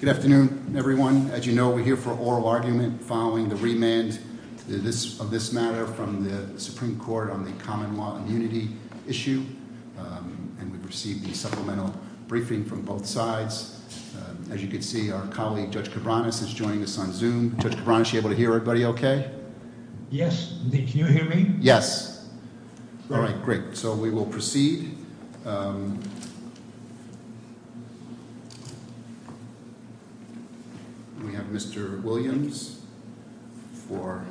Good afternoon, everyone. As you know, we're here for oral argument following the remand of this matter from the Supreme Court on the common law immunity issue. And we received the supplemental briefing from both sides. As you can see, our colleague Judge Cabranes is joining us on Zoom. Judge Cabranes, are you able to hear everybody okay? Yes. Can you hear me? Yes. All right, great. So we will proceed. We have Mr. Williams for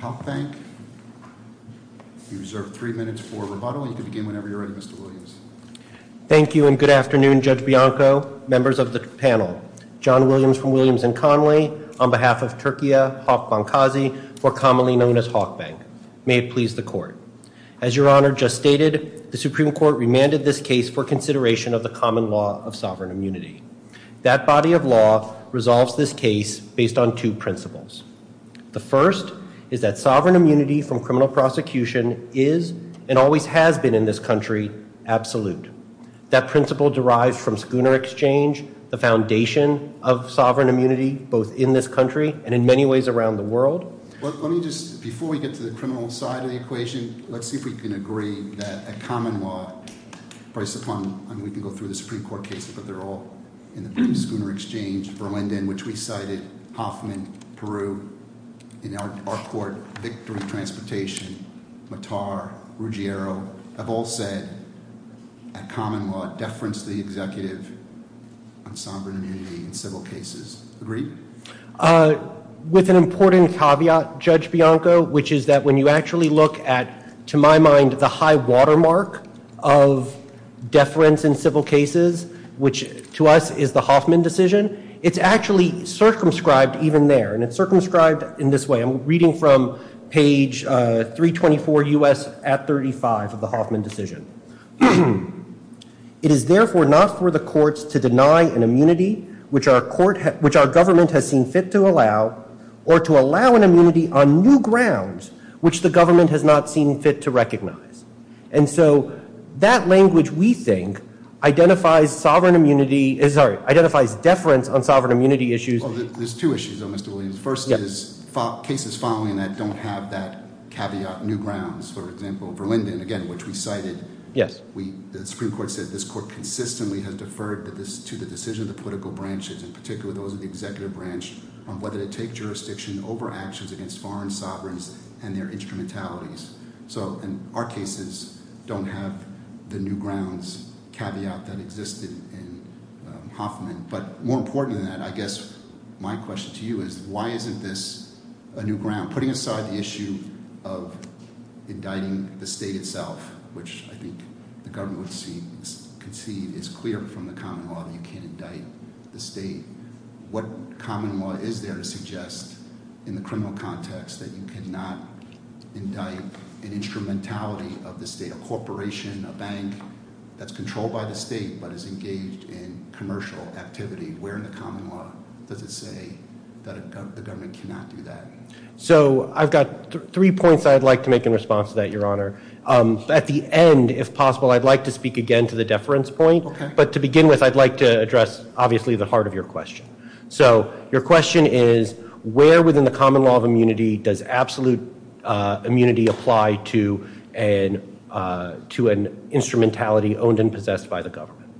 Hawk Bank. You reserve three minutes for rebuttal. You can begin whenever you're ready, Mr. Williams. Thank you and good afternoon, Judge Bianco, members of the panel. John Williams from Williams & Connolly on behalf of Turkia Hawk Bankazi, more commonly known as Hawk Bank. May it please the court. As Your Honor just stated, the Supreme Court remanded this case for consideration of the common law of sovereign immunity. That body of law resolves this case based on two principles. The first is that sovereign immunity from criminal prosecution is and always has been in this country absolute. That principle derives from Schooner Exchange, the foundation of sovereign immunity both in this country and in many ways around the world. Let me just, before we get to the criminal side of the equation, let's see if we can agree that a common law based upon, and we can go through the Supreme Court cases, but they're all in the Schooner Exchange, Berlin, which we cited, Hoffman, Peru, in our court, Victory Transportation, Mattar, Ruggiero, have all said a common law deference the executive on sovereign immunity in several cases. Agree? With an important caveat, Judge Bianco, which is that when you actually look at, to my mind, the high watermark of deference in civil cases, which to us is the Hoffman decision, it's actually circumscribed even there. It's circumscribed in this way. I'm reading from page 324 U.S. at 35 of the Hoffman decision. It is therefore not for the courts to deny an immunity which our government has seen fit to allow or to allow an immunity on new grounds which the government has not seen fit to recognize. And so that language, we think, identifies deference on sovereign immunity issues. There's two issues, though, Mr. Williams. First is cases following that don't have that caveat new grounds, for example, Verlinden, again, which we cited. The Supreme Court said this court consistently has deferred to the decision of the political branches, in particular those of the executive branch, on whether to take jurisdiction over actions against foreign sovereigns and their instrumentalities. So our cases don't have the new grounds caveat that existed in Hoffman. But more important than that, I guess my question to you is why isn't this a new ground? I'm putting aside the issue of indicting the state itself, which I think the government would concede is clear from the common law that you can't indict the state. What common law is there to suggest in the criminal context that you cannot indict an instrumentality of the state, a corporation, a bank, that's controlled by the state but is engaged in commercial activity? Where in the common law does it say that the government cannot do that? So I've got three points I'd like to make in response to that, Your Honor. At the end, if possible, I'd like to speak again to the deference point. But to begin with, I'd like to address, obviously, the heart of your question. So your question is where within the common law of immunity does absolute immunity apply to an instrumentality owned and possessed by the government?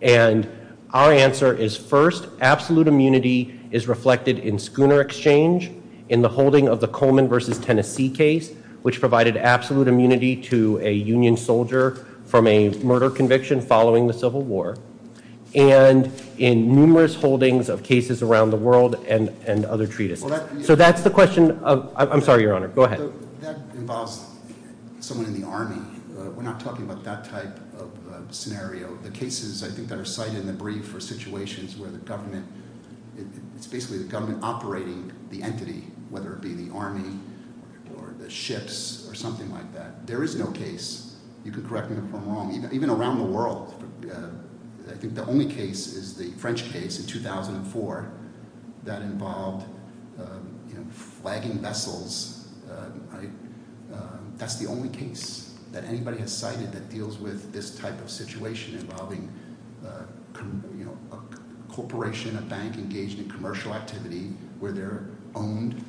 And our answer is, first, absolute immunity is reflected in Schooner Exchange, in the holding of the Coleman v. Tennessee case, which provided absolute immunity to a Union soldier from a murder conviction following the Civil War, and in numerous holdings of cases around the world and other treatises. So that's the question of – I'm sorry, Your Honor. Go ahead. That involves someone in the Army. We're not talking about that type of scenario. The cases I think that are cited in the brief are situations where the government – it's basically the government operating the entity, whether it be the Army or the ships or something like that. There is no case – you can correct me if I'm wrong – even around the world. I think the only case is the French case in 2004 that involved flagging vessels. That's the only case that anybody has cited that deals with this type of situation involving a corporation, a bank engaged in commercial activity where they're owned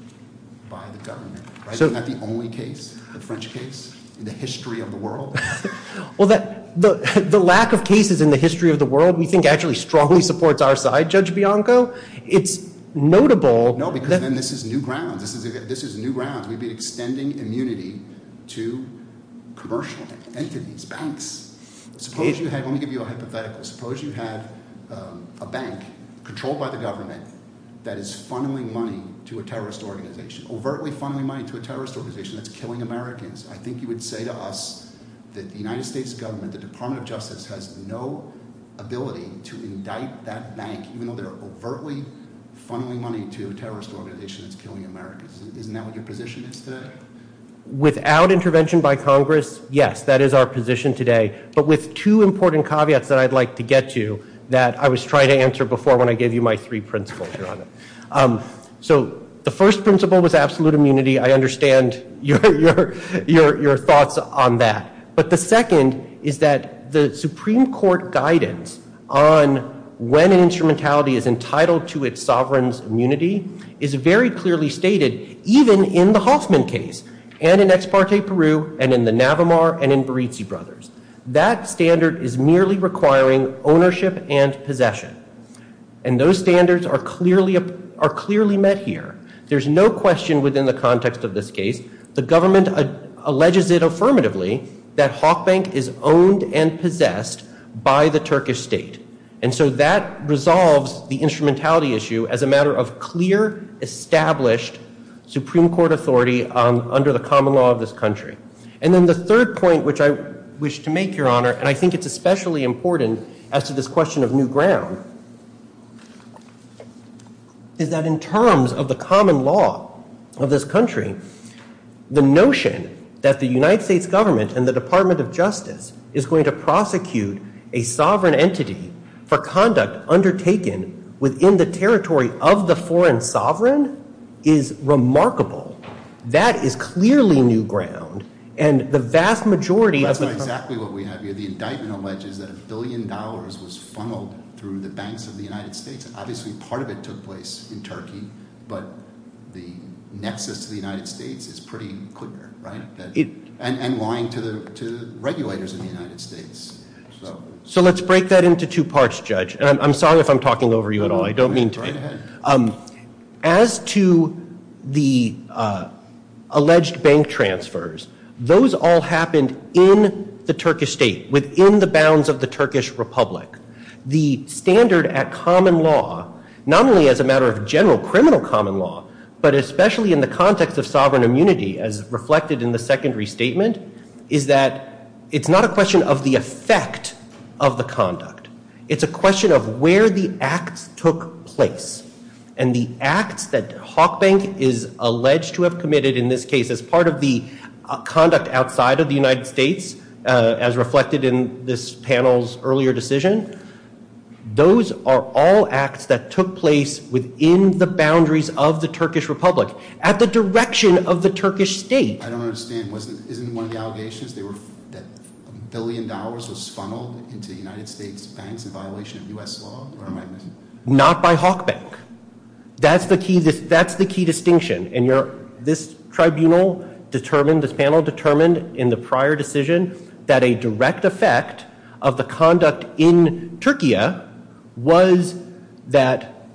by the government. Isn't that the only case, the French case, in the history of the world? Well, the lack of cases in the history of the world we think actually strongly supports our side, Judge Bianco. It's notable – No, because then this is new grounds. This is new grounds. We've been extending immunity to commercial entities, banks. Suppose you have – let me give you a hypothetical. Suppose you have a bank controlled by the government that is funneling money to a terrorist organization, overtly funneling money to a terrorist organization that's killing Americans. I think you would say to us that the United States government, the Department of Justice, has no ability to indict that bank, even though they're overtly funneling money to a terrorist organization that's killing Americans. Isn't that what your position is today? Without intervention by Congress, yes, that is our position today. But with two important caveats that I'd like to get to that I was trying to answer before when I gave you my three principles, Your Honor. So the first principle was absolute immunity. I understand your thoughts on that. But the second is that the Supreme Court guidance on when an instrumentality is entitled to its sovereign's immunity is very clearly stated, even in the Hoffman case, and in Ex parte Peru, and in the Navamar, and in Berizzi Brothers. That standard is merely requiring ownership and possession. And those standards are clearly met here. There's no question within the context of this case, the government alleges it affirmatively that Hawk Bank is owned and possessed by the Turkish state. And so that resolves the instrumentality issue as a matter of clear, established Supreme Court authority under the common law of this country. And then the third point, which I wish to make, Your Honor, and I think it's especially important as to this question of new ground, is that in terms of the common law of this country, the notion that the United States government and the Department of Justice is going to prosecute a sovereign entity for conduct undertaken within the territory of the foreign sovereign is remarkable. That is clearly new ground. And the vast majority of the country- That's not exactly what we have here. The indictment alleges that a billion dollars was funneled through the banks of the United States. Obviously, part of it took place in Turkey. But the nexus to the United States is pretty clear, right? And lying to the regulators in the United States. So let's break that into two parts, Judge. I'm sorry if I'm talking over you at all. I don't mean to be. As to the alleged bank transfers, those all happened in the Turkish state, within the bounds of the Turkish Republic. The standard at common law, not only as a matter of general criminal common law, but especially in the context of sovereign immunity as reflected in the secondary statement, is that it's not a question of the effect of the conduct. It's a question of where the acts took place. And the acts that Hawk Bank is alleged to have committed in this case as part of the conduct outside of the United States, as reflected in this panel's earlier decision, those are all acts that took place within the boundaries of the Turkish Republic, at the direction of the Turkish state. I don't understand. Isn't one of the allegations that a billion dollars was funneled into the United States banks in violation of U.S. law? Not by Hawk Bank. That's the key distinction. This panel determined in the prior decision that a direct effect of the conduct in Turkey was that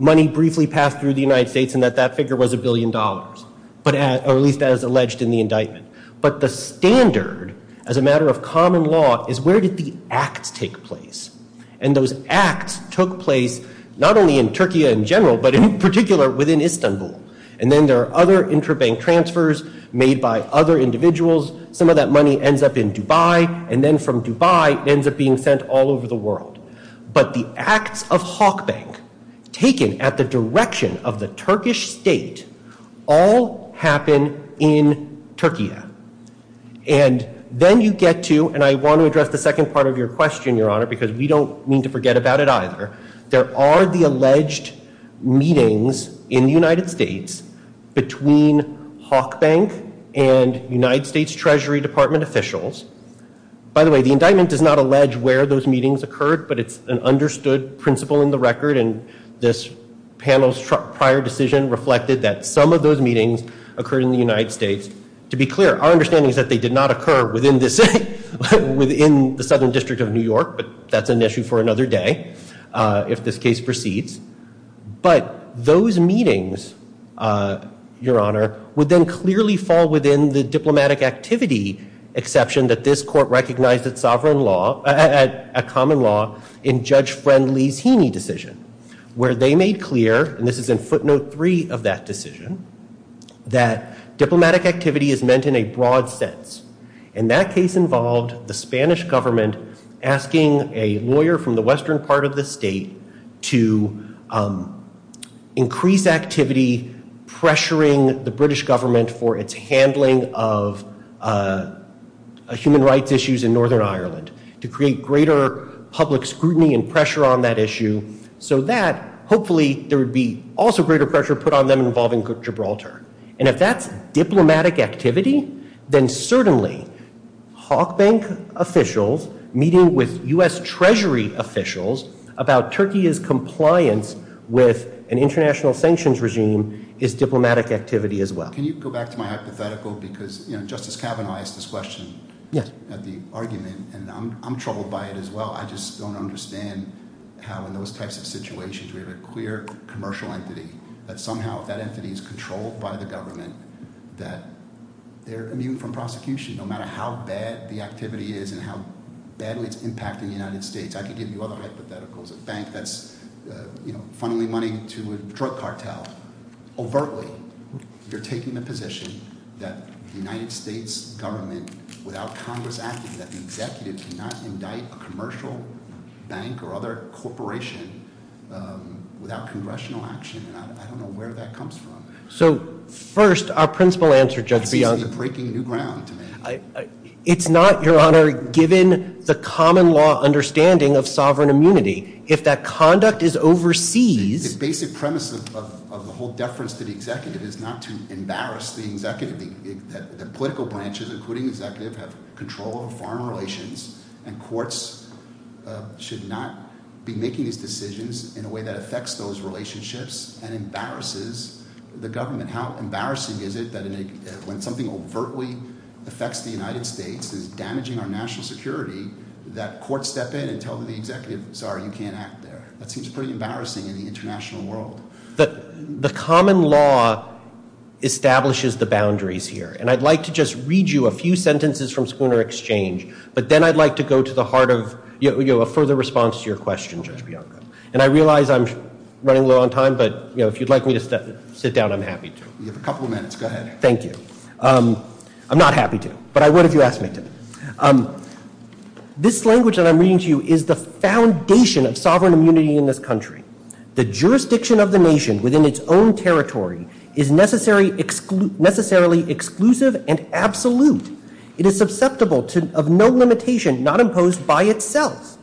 money briefly passed through the United States and that that figure was a billion dollars. Or at least as alleged in the indictment. But the standard, as a matter of common law, is where did the acts take place? And those acts took place not only in Turkey in general, but in particular within Istanbul. And then there are other intra-bank transfers made by other individuals. Some of that money ends up in Dubai. And then from Dubai, it ends up being sent all over the world. But the acts of Hawk Bank, taken at the direction of the Turkish state, all happen in Turkey. And then you get to, and I want to address the second part of your question, Your Honor, because we don't mean to forget about it either. There are the alleged meetings in the United States between Hawk Bank and United States Treasury Department officials. By the way, the indictment does not allege where those meetings occurred, but it's an understood principle in the record. And this panel's prior decision reflected that some of those meetings occurred in the United States. To be clear, our understanding is that they did not occur within the Southern District of New York, but that's an issue for another day if this case proceeds. But those meetings, Your Honor, would then clearly fall within the diplomatic activity exception that this court recognized as a common law in Judge Friend-Lezhini's decision, where they made clear, and this is in footnote three of that decision, that diplomatic activity is meant in a broad sense. And that case involved the Spanish government asking a lawyer from the western part of the state to increase activity pressuring the British government for its handling of human rights issues in Northern Ireland to create greater public scrutiny and pressure on that issue, so that hopefully there would be also greater pressure put on them involving Gibraltar. And if that's diplomatic activity, then certainly Hawk Bank officials meeting with U.S. Treasury officials about Turkey's compliance with an international sanctions regime is diplomatic activity as well. Can you go back to my hypothetical because, you know, Justice Kavanaugh asked this question at the argument, and I'm troubled by it as well. I just don't understand how in those types of situations we have a clear commercial entity that somehow if that entity is controlled by the government that they're immune from prosecution no matter how bad the activity is and how badly it's impacting the United States. I could give you other hypotheticals. A bank that's, you know, funneling money to a drug cartel. Overtly, you're taking the position that the United States government without Congress acting, that the executive cannot indict a commercial bank or other corporation without congressional action. And I don't know where that comes from. So first, our principal answer, Judge Biondi. You're breaking new ground to me. It's not, Your Honor, given the common law understanding of sovereign immunity. If that conduct is overseas. The basic premise of the whole deference to the executive is not to embarrass the executive. The political branches, including executive, have control of foreign relations, and courts should not be making these decisions in a way that affects those relationships and embarrasses the government. And how embarrassing is it that when something overtly affects the United States, is damaging our national security, that courts step in and tell the executive, sorry, you can't act there. That seems pretty embarrassing in the international world. The common law establishes the boundaries here. And I'd like to just read you a few sentences from Spooner Exchange, but then I'd like to go to the heart of a further response to your question, Judge Bianco. And I realize I'm running low on time, but if you'd like me to sit down, I'm happy to. You have a couple of minutes. Go ahead. Thank you. I'm not happy to, but I would if you asked me to. This language that I'm reading to you is the foundation of sovereign immunity in this country. The jurisdiction of the nation within its own territory is necessarily exclusive and absolute. It is susceptible of no limitation not imposed by itself.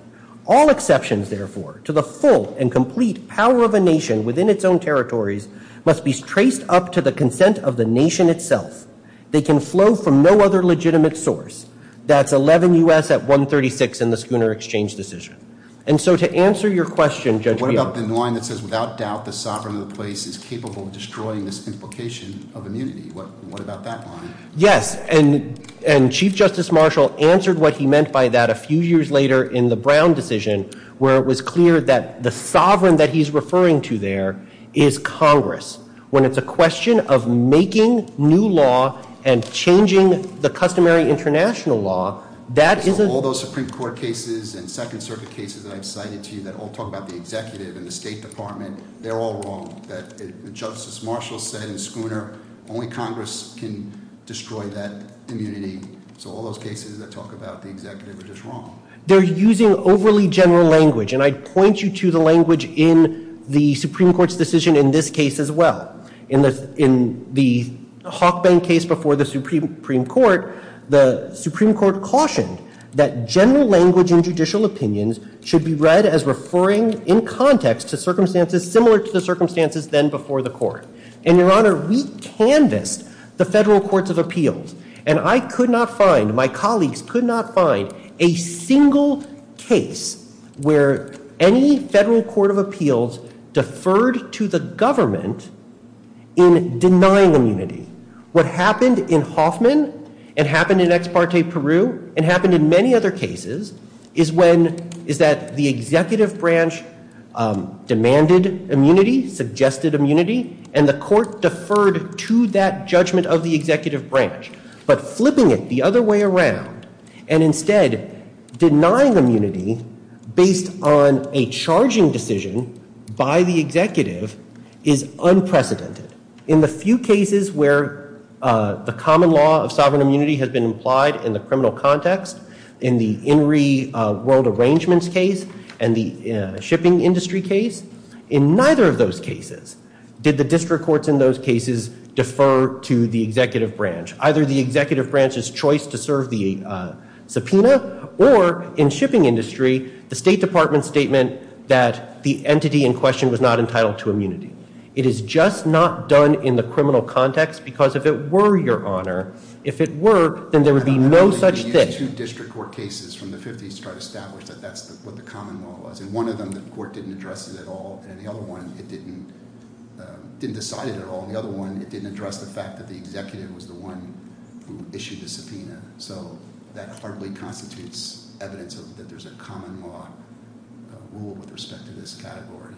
All exceptions, therefore, to the full and complete power of a nation within its own territories must be traced up to the consent of the nation itself. They can flow from no other legitimate source. That's 11 U.S. at 136 in the Spooner Exchange decision. And so to answer your question, Judge Bianco. What about the line that says, without doubt, the sovereign of the place is capable of destroying this implication of immunity? What about that line? Yes, and Chief Justice Marshall answered what he meant by that a few years later in the Brown decision where it was clear that the sovereign that he's referring to there is Congress. When it's a question of making new law and changing the customary international law, that is a— All those Supreme Court cases and Second Circuit cases that I've cited to you that all talk about the executive and the State Department, they're all wrong. Justice Marshall said in Spooner, only Congress can destroy that immunity. So all those cases that talk about the executive are just wrong. They're using overly general language. And I'd point you to the language in the Supreme Court's decision in this case as well. In the Hawkbank case before the Supreme Court, the Supreme Court cautioned that general language in judicial opinions should be read as referring in context to circumstances similar to the circumstances then before the court. And, Your Honor, we canvassed the federal courts of appeals, and I could not find, my colleagues could not find, a single case where any federal court of appeals deferred to the government in denying immunity. What happened in Hoffman and happened in Ex parte Peru and happened in many other cases is when—is that the executive branch demanded immunity, suggested immunity, and the court deferred to that judgment of the executive branch. But flipping it the other way around and instead denying immunity based on a charging decision by the executive is unprecedented. In the few cases where the common law of sovereign immunity has been implied in the criminal context, in the INRI World Arrangements case and the shipping industry case, in neither of those cases did the district courts in those cases defer to the executive branch, either the executive branch's choice to serve the subpoena or, in shipping industry, the State Department's statement that the entity in question was not entitled to immunity. It is just not done in the criminal context, because if it were, Your Honor, if it were, then there would be no such thing. Well, I don't know if you used two district court cases from the 50s to try to establish that that's what the common law was. In one of them, the court didn't address it at all. In the other one, it didn't decide it at all. In the other one, it didn't address the fact that the executive was the one who issued the subpoena. So that hardly constitutes evidence that there's a common law rule with respect to this category.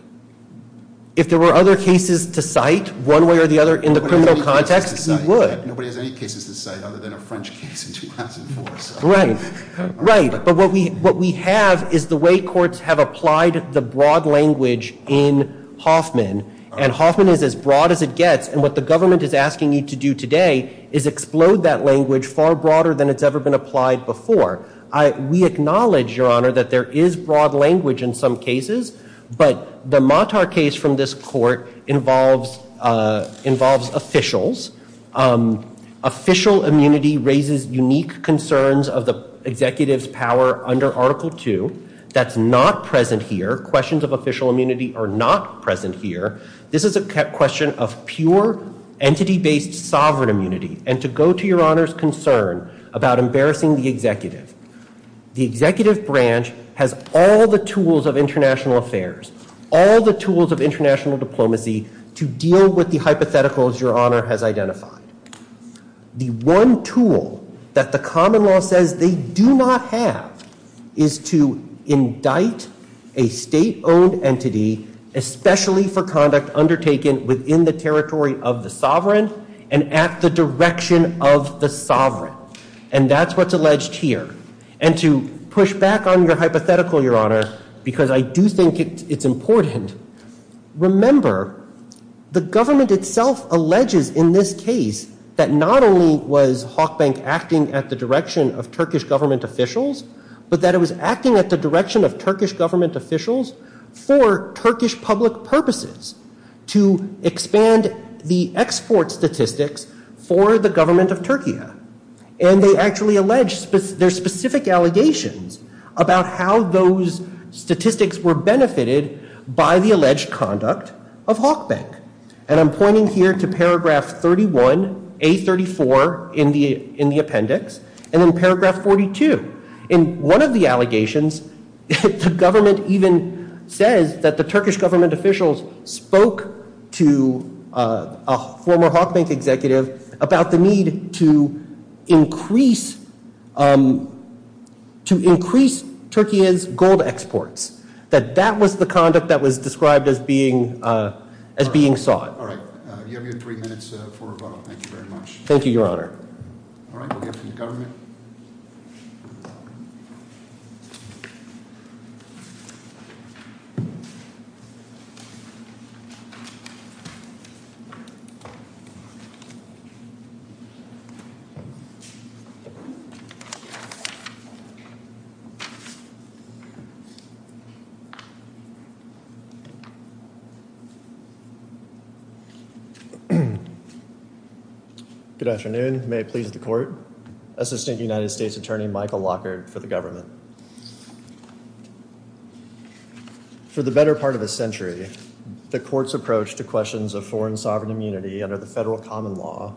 If there were other cases to cite, one way or the other, in the criminal context, we would. Nobody has any cases to cite other than a French case in 2004. Right. Right. But what we have is the way courts have applied the broad language in Hoffman. And Hoffman is as broad as it gets. And what the government is asking you to do today is explode that language far broader than it's ever been applied before. We acknowledge, Your Honor, that there is broad language in some cases. But the Matar case from this court involves officials. Official immunity raises unique concerns of the executive's power under Article II. That's not present here. Questions of official immunity are not present here. This is a question of pure entity-based sovereign immunity. And to go to Your Honor's concern about embarrassing the executive, the executive branch has all the tools of international affairs, all the tools of international diplomacy, to deal with the hypotheticals Your Honor has identified. The one tool that the common law says they do not have is to indict a state-owned entity, especially for conduct undertaken within the territory of the sovereign and at the direction of the sovereign. And that's what's alleged here. And to push back on your hypothetical, Your Honor, because I do think it's important, remember the government itself alleges in this case that not only was Hawk Bank acting at the direction of Turkish government officials, but that it was acting at the direction of Turkish government officials for Turkish public purposes to expand the export statistics for the government of Turkey. And they actually allege their specific allegations about how those statistics were benefited by the alleged conduct of Hawk Bank. And I'm pointing here to paragraph 31, A34 in the appendix, and then paragraph 42. In one of the allegations, the government even says that the Turkish government officials spoke to a former Hawk Bank executive about the need to increase Turkey's gold exports, that that was the conduct that was described as being sought. All right. You have your three minutes for rebuttal. Thank you very much. Thank you, Your Honor. All right. We'll get from the government. Good afternoon. May it please the court. Assistant United States Attorney Michael Lockhart for the government. For the better part of a century, the court's approach to questions of foreign sovereign immunity under the federal common law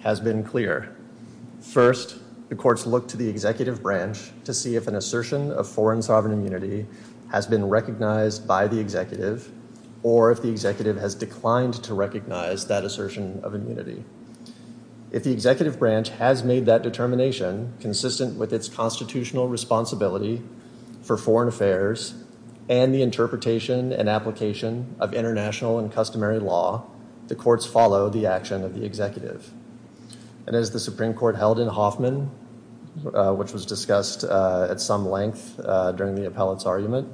has been clear. First, the courts look to the executive branch to see if an assertion of foreign sovereign immunity has been recognized by the executive or if the executive has declined to recognize that assertion of immunity. If the executive branch has made that determination consistent with its constitutional responsibility for foreign affairs and the interpretation and application of international and customary law, the courts follow the action of the executive. And as the Supreme Court held in Hoffman, which was discussed at some length during the appellate's argument,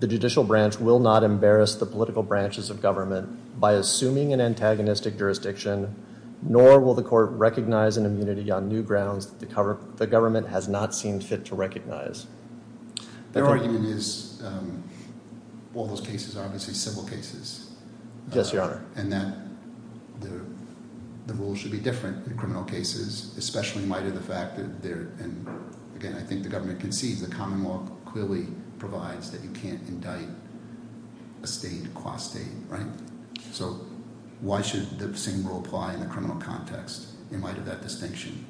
the judicial branch will not embarrass the political branches of government by assuming an antagonistic jurisdiction, nor will the court recognize an immunity on new grounds the government has not seen fit to recognize. Their argument is all those cases are obviously civil cases. Yes, Your Honor. And that the rules should be different in criminal cases, especially in light of the fact that they're – and, again, I think the government concedes the common law clearly provides that you can't indict a state qua state, right? So why should the same rule apply in the criminal context in light of that distinction?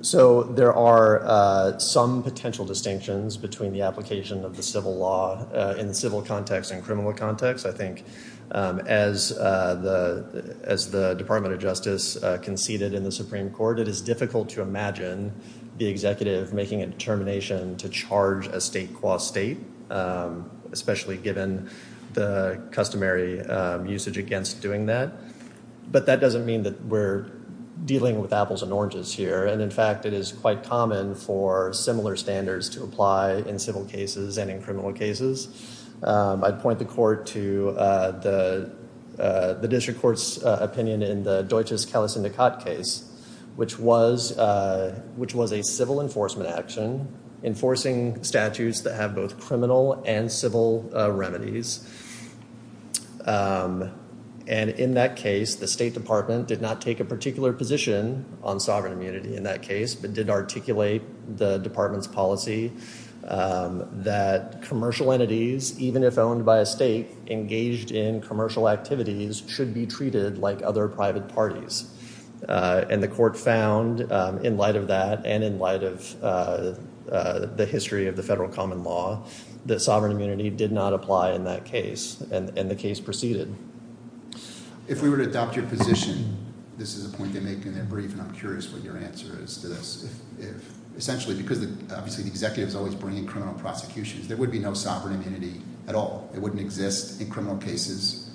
So there are some potential distinctions between the application of the civil law in the civil context and criminal context, I think. As the Department of Justice conceded in the Supreme Court, it is difficult to imagine the executive making a determination to charge a state qua state, especially given the customary usage against doing that. But that doesn't mean that we're dealing with apples and oranges here. And, in fact, it is quite common for similar standards to apply in civil cases and in criminal cases. I'd point the court to the district court's opinion in the Deutsches Kalas-Indikat case, which was a civil enforcement action enforcing statutes that have both criminal and civil remedies. And in that case, the State Department did not take a particular position on sovereign immunity in that case, but did articulate the department's policy that commercial entities, even if owned by a state, engaged in commercial activities should be treated like other private parties. And the court found, in light of that and in light of the history of the federal common law, that sovereign immunity did not apply in that case. And the case proceeded. If we were to adopt your position, this is a point they make in their brief, and I'm curious what your answer is to this. Essentially, because obviously the executive is always bringing criminal prosecutions, there would be no sovereign immunity at all. It wouldn't exist in criminal cases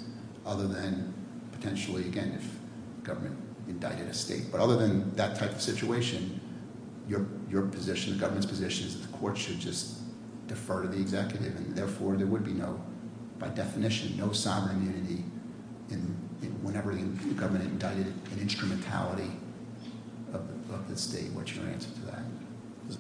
other than potentially, again, if government indicted a state. But other than that type of situation, your position, the government's position, is that the court should just defer to the executive, and therefore there would be no, by definition, no sovereign immunity whenever the government indicted an instrumentality of the state. What's your answer to that?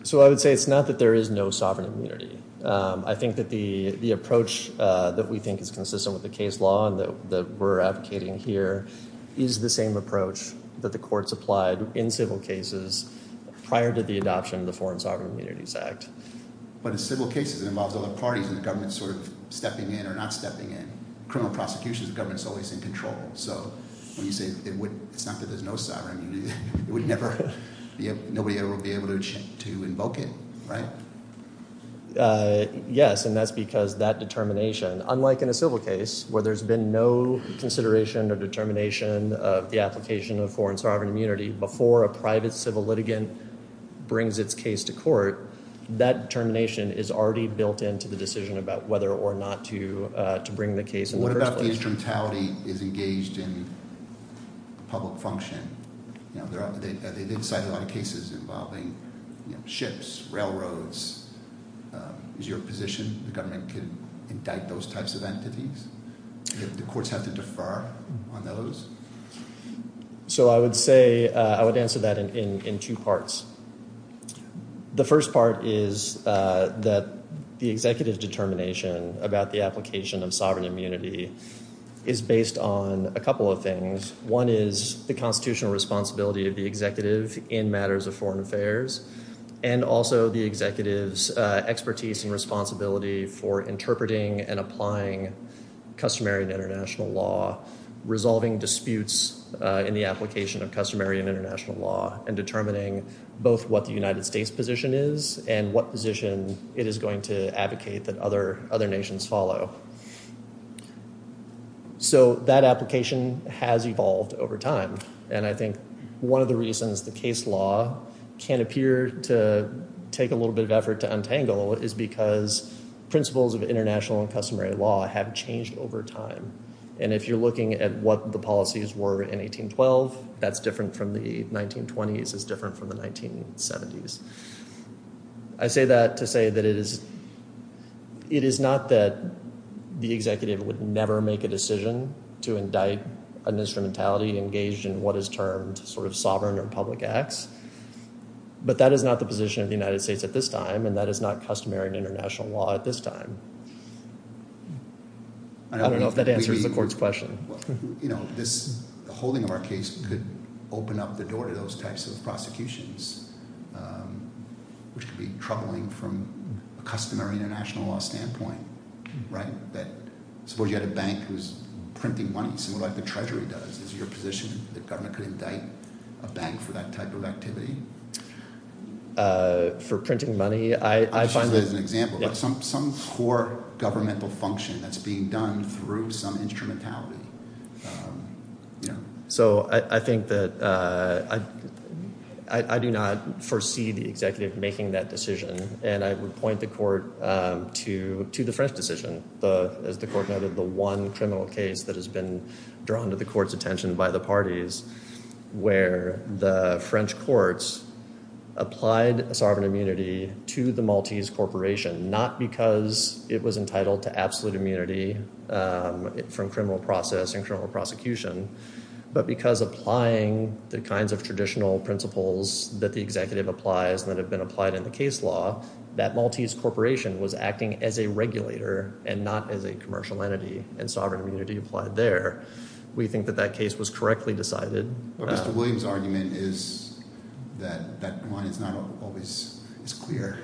So I would say it's not that there is no sovereign immunity. I think that the approach that we think is consistent with the case law that we're advocating here is the same approach that the courts applied in civil cases prior to the adoption of the Foreign Sovereign Immunities Act. But in civil cases, it involves other parties and the government sort of stepping in or not stepping in. Criminal prosecutions, the government's always in control. So when you say it's not that there's no sovereign immunity, it would never be able to invoke it, right? Yes, and that's because that determination, unlike in a civil case where there's been no consideration or determination of the application of Foreign Sovereign Immunity before a private civil litigant brings its case to court, that determination is already built into the decision about whether or not to bring the case in the first place. What about the instrumentality is engaged in public function? They've cited a lot of cases involving ships, railroads. Is your position the government can indict those types of entities? Do the courts have to defer on those? So I would say I would answer that in two parts. The first part is that the executive determination about the application of sovereign immunity is based on a couple of things. One is the constitutional responsibility of the executive in matters of foreign affairs and also the executive's expertise and responsibility for interpreting and applying customary international law, resolving disputes in the application of customary and international law, and determining both what the United States position is and what position it is going to advocate that other nations follow. So that application has evolved over time, and I think one of the reasons the case law can appear to take a little bit of effort to untangle is because principles of international and customary law have changed over time. And if you're looking at what the policies were in 1812, that's different from the 1920s. It's different from the 1970s. I say that to say that it is not that the executive would never make a decision to indict an instrumentality engaged in what is termed sort of sovereign or public acts, but that is not the position of the United States at this time, and that is not customary and international law at this time. I don't know if that answers the court's question. The holding of our case could open up the door to those types of prosecutions, which could be troubling from a customary international law standpoint. Suppose you had a bank who's printing money, similar to what the Treasury does. Is it your position that the government could indict a bank for that type of activity? For printing money? I'll use that as an example. Some core governmental function that's being done through some instrumentality. So I think that I do not foresee the executive making that decision, and I would point the court to the French decision. As the court noted, the one criminal case that has been drawn to the court's attention by the parties where the French courts applied sovereign immunity to the Maltese corporation, not because it was entitled to absolute immunity from criminal process and criminal prosecution, but because applying the kinds of traditional principles that the executive applies and that have been applied in the case law, that Maltese corporation was acting as a regulator and not as a commercial entity, and sovereign immunity applied there. We think that that case was correctly decided. Mr. Williams' argument is that that one is not always as clear.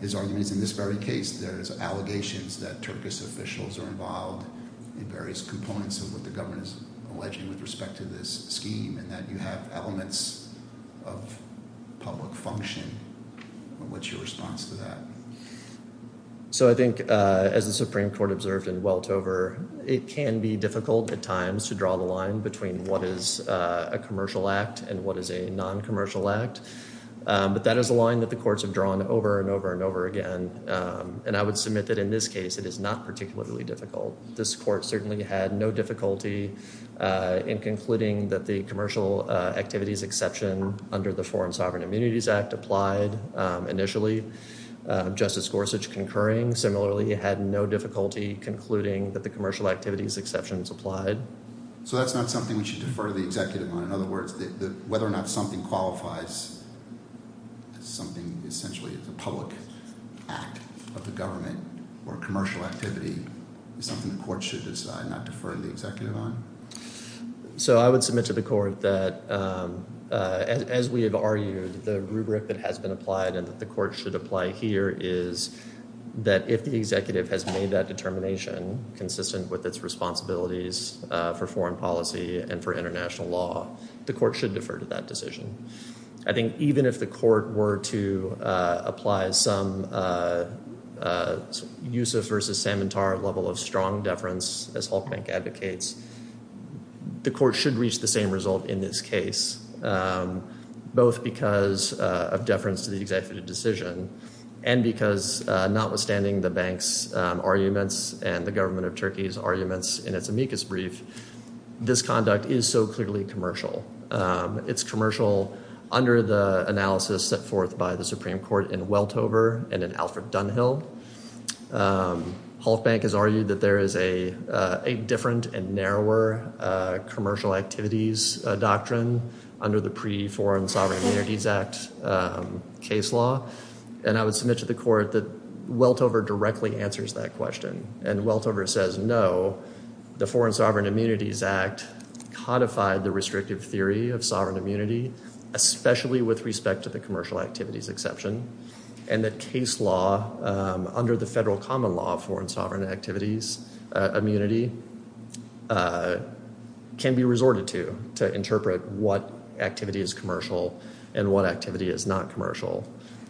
His argument is in this very case there's allegations that Turkish officials are involved in various components of what the government is alleging with respect to this scheme, and that you have elements of public function. What's your response to that? So I think as the Supreme Court observed in Weltover, it can be difficult at times to draw the line between what is a commercial act and what is a noncommercial act, but that is a line that the courts have drawn over and over and over again, and I would submit that in this case it is not particularly difficult. This court certainly had no difficulty in concluding that the commercial activities exception under the Foreign Sovereign Immunities Act applied initially. Justice Gorsuch concurring. Similarly, it had no difficulty concluding that the commercial activities exception is applied. So that's not something we should defer the executive on. In other words, whether or not something qualifies as something essentially as a public act of the government or commercial activity is something the court should decide, not defer the executive on? So I would submit to the court that as we have argued, the rubric that has been applied and that the court should apply here is that if the executive has made that determination consistent with its responsibilities for foreign policy and for international law, the court should defer to that decision. I think even if the court were to apply some Yusuf versus Samantar level of strong deference, as Hulkbank advocates, the court should reach the same result in this case, both because of deference to the executive decision and because notwithstanding the bank's arguments and the government of Turkey's arguments in its amicus brief, this conduct is so clearly commercial. It's commercial under the analysis set forth by the Supreme Court in Weltover and in Alfred Dunhill. Hulkbank has argued that there is a different and narrower commercial activities doctrine under the pre-Foreign Sovereign Immunities Act case law. And I would submit to the court that Weltover directly answers that question. And Weltover says no, the Foreign Sovereign Immunities Act codified the restrictive theory of sovereign immunity, especially with respect to the commercial activities exception, and that case law under the federal common law of foreign sovereign activities immunity can be resorted to to interpret what activity is commercial and what activity is not commercial.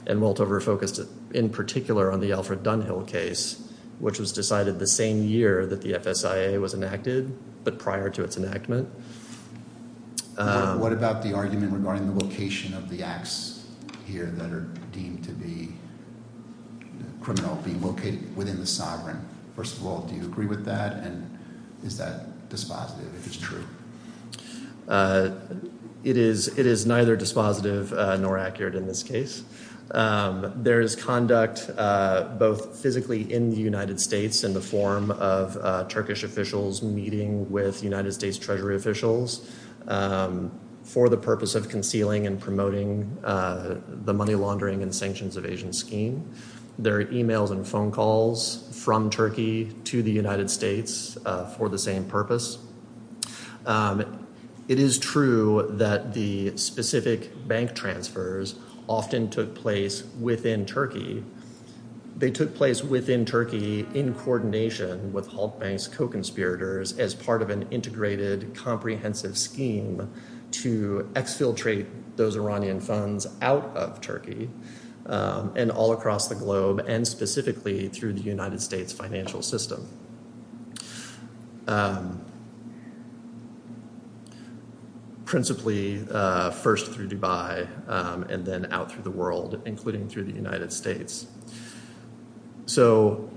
And Weltover focused in particular on the Alfred Dunhill case, which was decided the same year that the FSIA was enacted but prior to its enactment. What about the argument regarding the location of the acts here that are deemed to be criminal being located within the sovereign? First of all, do you agree with that? And is that dispositive, if it's true? It is neither dispositive nor accurate in this case. There is conduct both physically in the United States in the form of Turkish officials meeting with United States Treasury officials for the purpose of concealing and promoting the money laundering and sanctions evasion scheme. There are emails and phone calls from Turkey to the United States for the same purpose. It is true that the specific bank transfers often took place within Turkey. They took place within Turkey in coordination with Halk Bank's co-conspirators as part of an integrated, and specifically through the United States financial system, principally first through Dubai and then out through the world, including through the United States. So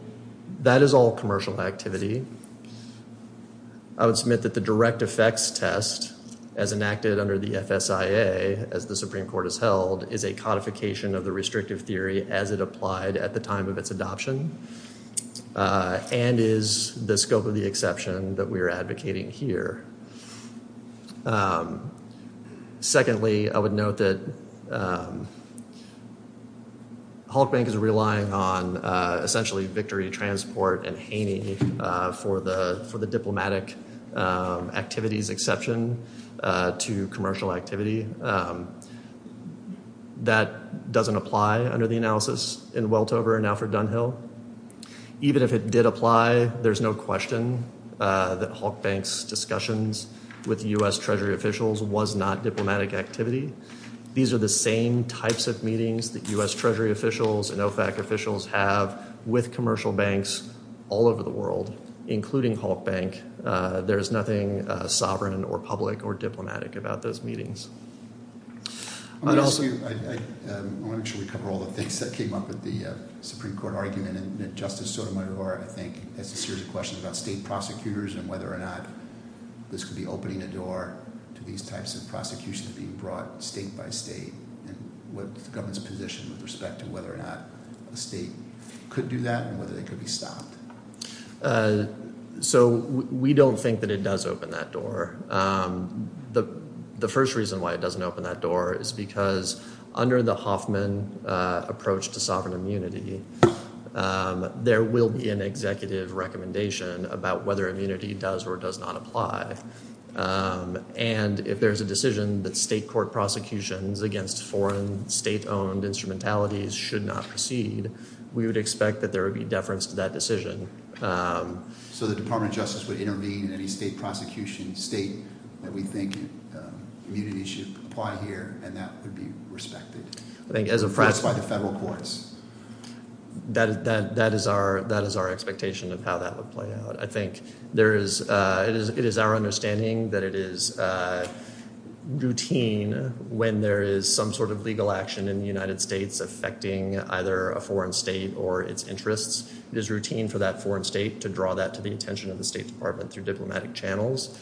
that is all commercial activity. I would submit that the direct effects test as enacted under the FSIA, as the Supreme Court has held, is a codification of the restrictive theory as it applied at the time of its adoption and is the scope of the exception that we are advocating here. Secondly, I would note that Halk Bank is relying on essentially victory transport and Haney for the diplomatic activities exception to commercial activity. That doesn't apply under the analysis in Weltover and Alfred Dunhill. Even if it did apply, there's no question that Halk Bank's discussions with U.S. Treasury officials was not diplomatic activity. These are the same types of meetings that U.S. Treasury officials and OFAC officials have with commercial banks all over the world, including Halk Bank. There is nothing sovereign or public or diplomatic about those meetings. I want to make sure we cover all the things that came up at the Supreme Court argument. Justice Sotomayor, I think, has a series of questions about state prosecutors and whether or not this could be opening a door to these types of prosecutions being brought state by state and what the government's position with respect to whether or not a state could do that and whether they could be stopped. So we don't think that it does open that door. The first reason why it doesn't open that door is because under the Hoffman approach to sovereign immunity, there will be an executive recommendation about whether immunity does or does not apply. And if there's a decision that state court prosecutions against foreign state-owned instrumentalities should not proceed, we would expect that there would be deference to that decision. So the Department of Justice would intervene in any state prosecution, state that we think immunity should apply here, and that would be respected. I think as a practice. At least by the federal courts. That is our expectation of how that would play out. It is our understanding that it is routine when there is some sort of legal action in the United States affecting either a foreign state or its interests. It is routine for that foreign state to draw that to the attention of the State Department through diplomatic channels.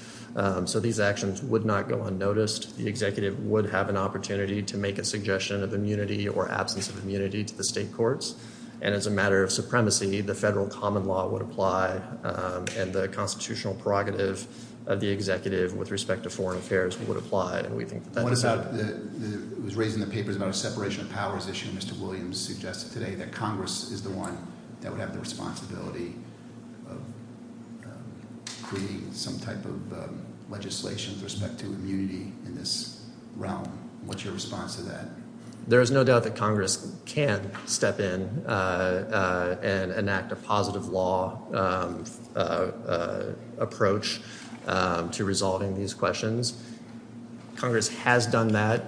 So these actions would not go unnoticed. The executive would have an opportunity to make a suggestion of immunity or absence of immunity to the state courts. And as a matter of supremacy, the federal common law would apply, and the constitutional prerogative of the executive with respect to foreign affairs would apply. And we think that that would help. What about – it was raised in the papers about a separation of powers issue. Mr. Williams suggested today that Congress is the one that would have the responsibility of creating some type of legislation with respect to immunity in this realm. What's your response to that? There is no doubt that Congress can step in and enact a positive law approach to resolving these questions. Congress has done that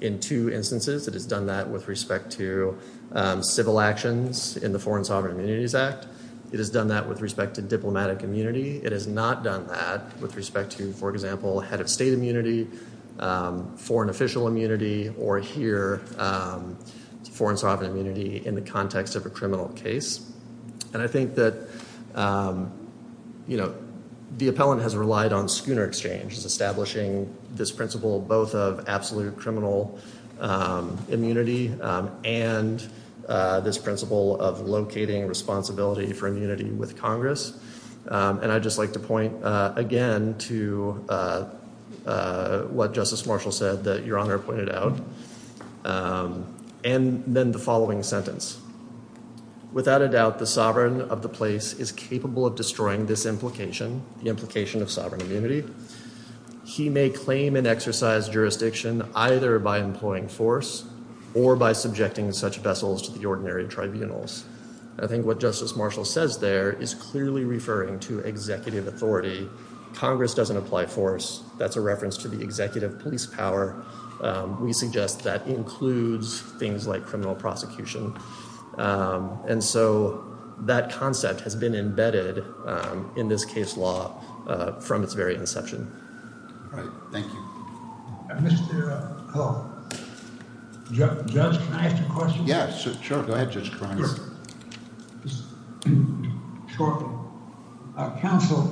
in two instances. It has done that with respect to civil actions in the Foreign Sovereign Immunities Act. It has done that with respect to diplomatic immunity. It has not done that with respect to, for example, head of state immunity, foreign official immunity, or here foreign sovereign immunity in the context of a criminal case. And I think that the appellant has relied on schooner exchange, establishing this principle both of absolute criminal immunity and this principle of locating responsibility for immunity with Congress. And I'd just like to point again to what Justice Marshall said that Your Honor pointed out, and then the following sentence. Without a doubt, the sovereign of the place is capable of destroying this implication, the implication of sovereign immunity. He may claim and exercise jurisdiction either by employing force or by subjecting such vessels to the ordinary tribunals. I think what Justice Marshall says there is clearly referring to executive authority. Congress doesn't apply force. That's a reference to the executive police power. We suggest that includes things like criminal prosecution. And so that concept has been embedded in this case law from its very inception. All right. Thank you. Judge, can I ask you a question? Yes, sure. Go ahead, Judge Caron. Shortly. Counsel,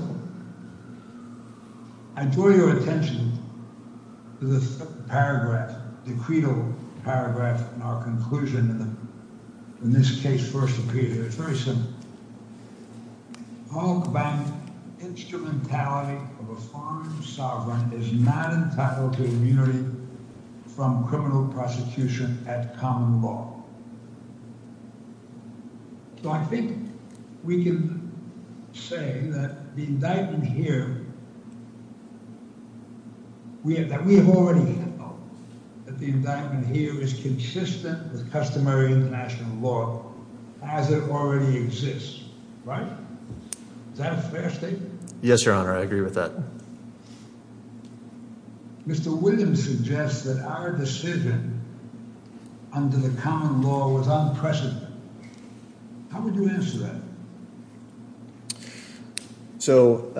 I draw your attention to the paragraph, the credo paragraph in our conclusion when this case first appeared. It's very simple. Paul Cabana, instrumentality of a foreign sovereign is not entitled to immunity from criminal prosecution at common law. So I think we can say that the indictment here, that we have already held that the indictment here is consistent with customary international law as it already exists. Right? Is that a fair statement? Yes, Your Honor. I agree with that. Mr. Williams suggests that our decision under the common law was unprecedented. How would you answer that? So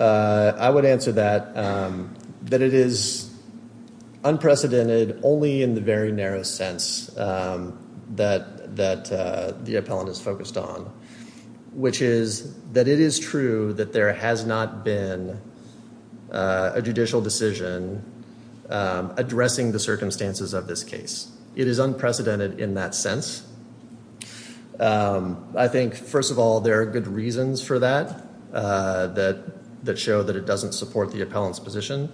I would answer that, that it is unprecedented only in the very narrow sense that that the appellant is focused on, which is that it is true that there has not been a judicial decision addressing the circumstances of this case. It is unprecedented in that sense. I think, first of all, there are good reasons for that, that show that it doesn't support the appellant's position.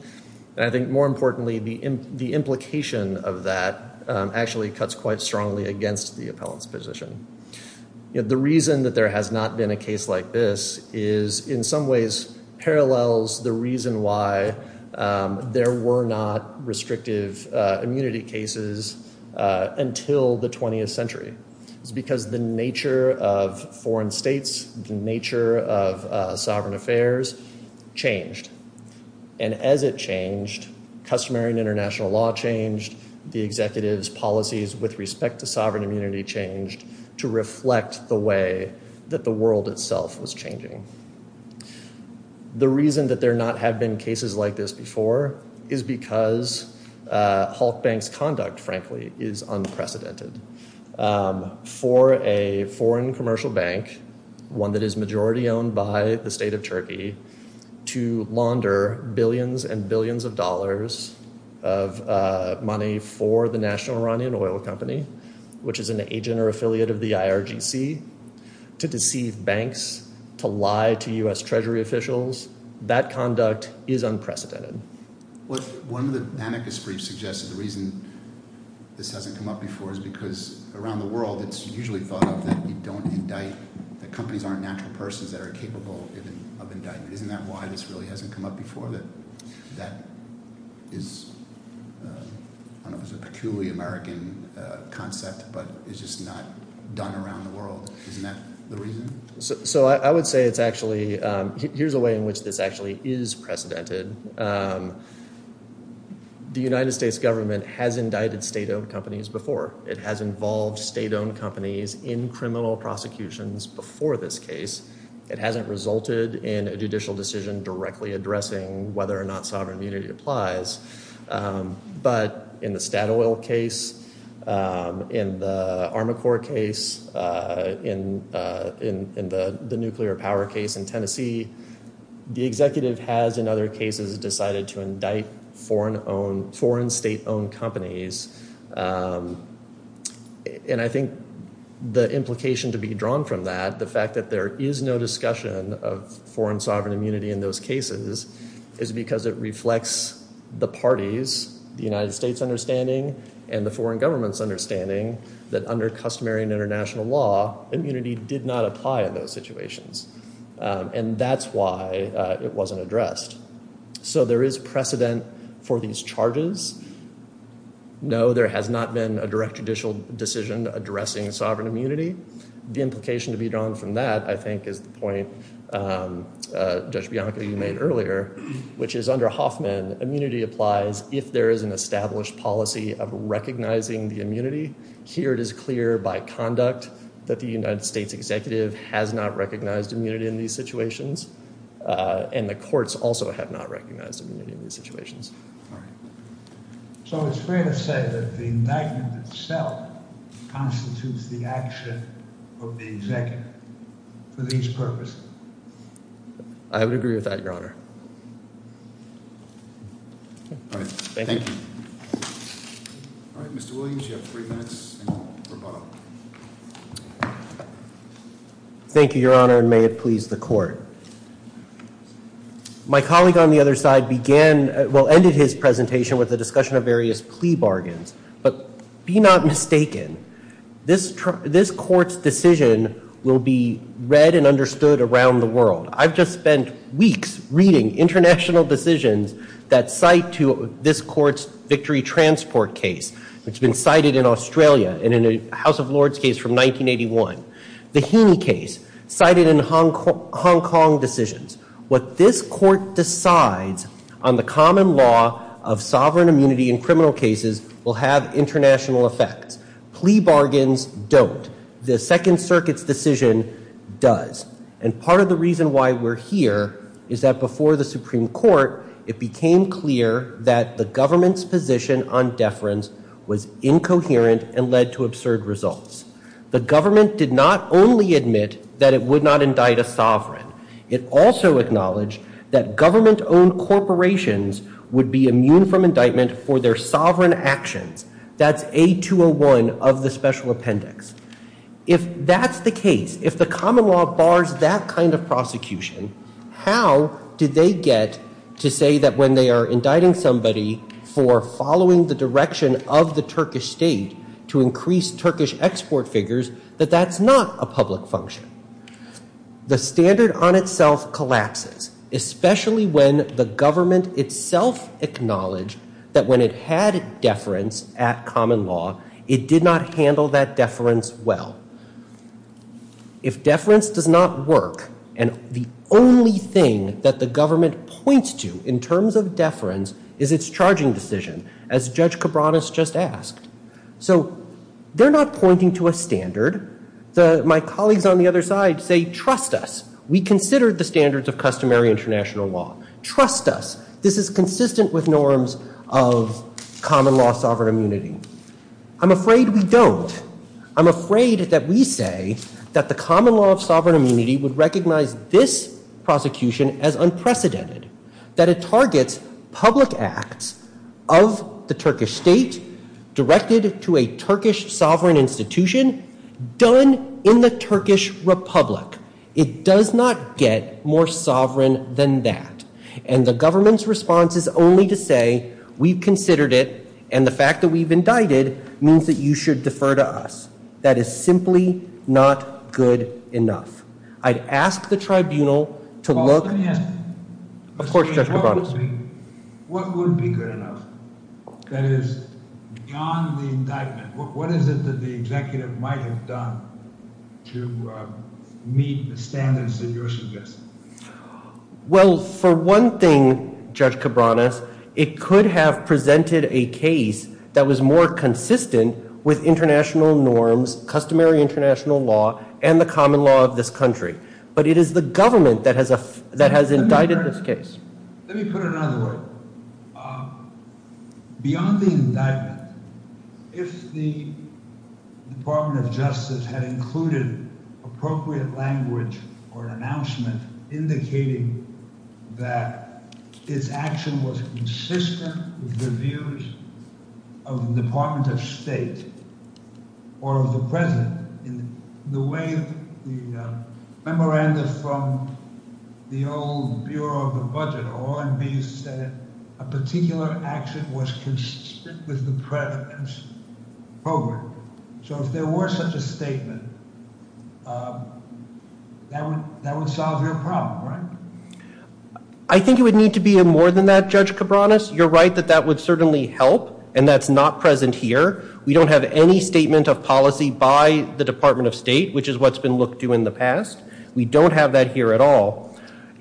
And I think more importantly, the implication of that actually cuts quite strongly against the appellant's position. The reason that there has not been a case like this is in some ways parallels the reason why there were not restrictive immunity cases until the 20th century. It's because the nature of foreign states, the nature of sovereign affairs changed. And as it changed, customary and international law changed, the executives' policies with respect to sovereign immunity changed to reflect the way that the world itself was changing. The reason that there not have been cases like this before is because Halk Bank's conduct, frankly, is unprecedented. For a foreign commercial bank, one that is majority owned by the state of Turkey, to launder billions and billions of dollars of money for the National Iranian Oil Company, which is an agent or affiliate of the IRGC, to deceive banks, to lie to U.S. Treasury officials, that conduct is unprecedented. One of the anarchist briefs suggested the reason this hasn't come up before is because around the world it's usually thought of that you don't indict, that companies aren't natural persons that are capable of indictment. Isn't that why this really hasn't come up before, that that is a peculiarly American concept but it's just not done around the world? Isn't that the reason? So I would say it's actually – here's a way in which this actually is precedented. The United States government has indicted state-owned companies before. It has involved state-owned companies in criminal prosecutions before this case. It hasn't resulted in a judicial decision directly addressing whether or not sovereign immunity applies. But in the Statoil case, in the Armacor case, in the nuclear power case in Tennessee, the executive has in other cases decided to indict foreign state-owned companies. And I think the implication to be drawn from that, the fact that there is no discussion of foreign sovereign immunity in those cases, is because it reflects the party's, the United States' understanding and the foreign government's understanding that under customary and international law, immunity did not apply in those situations. And that's why it wasn't addressed. So there is precedent for these charges. No, there has not been a direct judicial decision addressing sovereign immunity. The implication to be drawn from that, I think, is the point Judge Bianca, you made earlier, which is under Hoffman, immunity applies if there is an established policy of recognizing the immunity. Here it is clear by conduct that the United States executive has not recognized immunity in these situations. And the courts also have not recognized immunity in these situations. So it's fair to say that the indictment itself constitutes the action of the executive for these purposes? I would agree with that, Your Honor. Thank you. All right, Mr. Williams, you have three minutes and rebuttal. Thank you, Your Honor, and may it please the court. My colleague on the other side began, well, ended his presentation with a discussion of various plea bargains. But be not mistaken, this court's decision will be read and understood around the world. I've just spent weeks reading international decisions that cite to this court's Victory Transport case, which has been cited in Australia and in a House of Lords case from 1981. The Heaney case, cited in Hong Kong decisions. What this court decides on the common law of sovereign immunity in criminal cases will have international effects. Plea bargains don't. The Second Circuit's decision does. And part of the reason why we're here is that before the Supreme Court, it became clear that the government's position on deference was incoherent and led to absurd results. The government did not only admit that it would not indict a sovereign. It also acknowledged that government-owned corporations would be immune from indictment for their sovereign actions. That's A201 of the Special Appendix. If that's the case, if the common law bars that kind of prosecution, how did they get to say that when they are indicting somebody for following the direction of the Turkish state to increase Turkish export figures, that that's not a public function? The standard on itself collapses, especially when the government itself acknowledged that when it had deference at common law, it did not handle that deference well. If deference does not work, and the only thing that the government points to in terms of deference is its charging decision, as Judge Cabranes just asked. So they're not pointing to a standard. My colleagues on the other side say, trust us. We consider the standards of customary international law. Trust us. This is consistent with norms of common law sovereign immunity. I'm afraid we don't. I'm afraid that we say that the common law of sovereign immunity would recognize this prosecution as unprecedented, that it targets public acts of the Turkish state directed to a Turkish sovereign institution done in the Turkish Republic. It does not get more sovereign than that. And the government's response is only to say, we've considered it, and the fact that we've indicted means that you should defer to us. That is simply not good enough. I'd ask the tribunal to look. Of course, Judge Cabranes. What would be good enough that is beyond the indictment? What is it that the executive might have done to meet the standards that you're suggesting? Well, for one thing, Judge Cabranes, it could have presented a case that was more consistent with international norms, customary international law, and the common law of this country. But it is the government that has indicted this case. Let me put it another way. Beyond the indictment, if the Department of Justice had included appropriate language or an announcement indicating that its action was consistent with the views of the Department of State or of the president, in the way the memorandum from the old Bureau of the Budget or OMB said a particular action was consistent with the president's program. So if there were such a statement, that would solve your problem, right? I think it would need to be more than that, Judge Cabranes. You're right that that would certainly help, and that's not present here. We don't have any statement of policy by the Department of State, which is what's been looked to in the past. We don't have that here at all.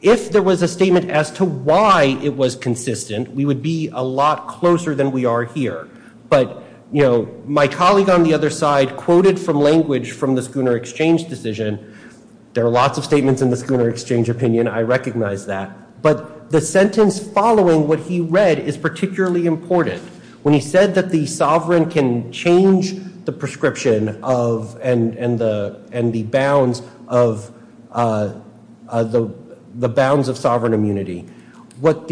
If there was a statement as to why it was consistent, we would be a lot closer than we are here. But my colleague on the other side quoted from language from the Schooner Exchange decision. There are lots of statements in the Schooner Exchange opinion. I recognize that. But the sentence following what he read is particularly important. When he said that the sovereign can change the prescription and the bounds of sovereign immunity, what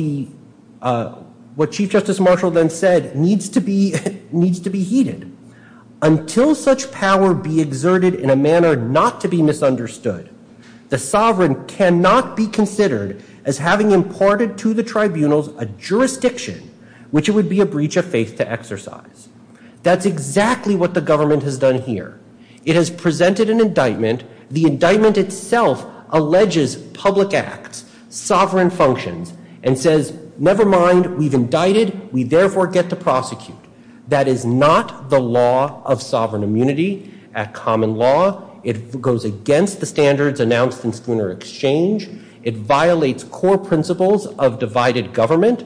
Chief Justice Marshall then said needs to be heated. Until such power be exerted in a manner not to be misunderstood, the sovereign cannot be considered as having imparted to the tribunals a jurisdiction which it would be a breach of faith to exercise. That's exactly what the government has done here. It has presented an indictment. The indictment itself alleges public acts, sovereign functions, and says, never mind. We've indicted. We therefore get to prosecute. That is not the law of sovereign immunity. At common law, it goes against the standards announced in Schooner Exchange. It violates core principles of divided government.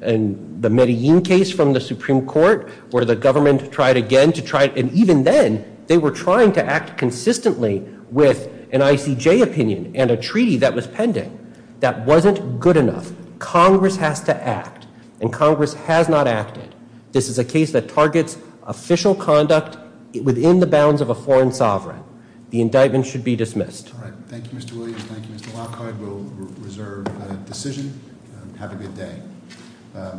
And the Medellin case from the Supreme Court, where the government tried again to try, and even then, they were trying to act consistently with an ICJ opinion and a treaty that was pending. That wasn't good enough. Congress has to act, and Congress has not acted. This is a case that targets official conduct within the bounds of a foreign sovereign. The indictment should be dismissed. All right. Thank you, Mr. Williams. Thank you, Mr. Lockhart. We'll reserve a decision. Have a good day.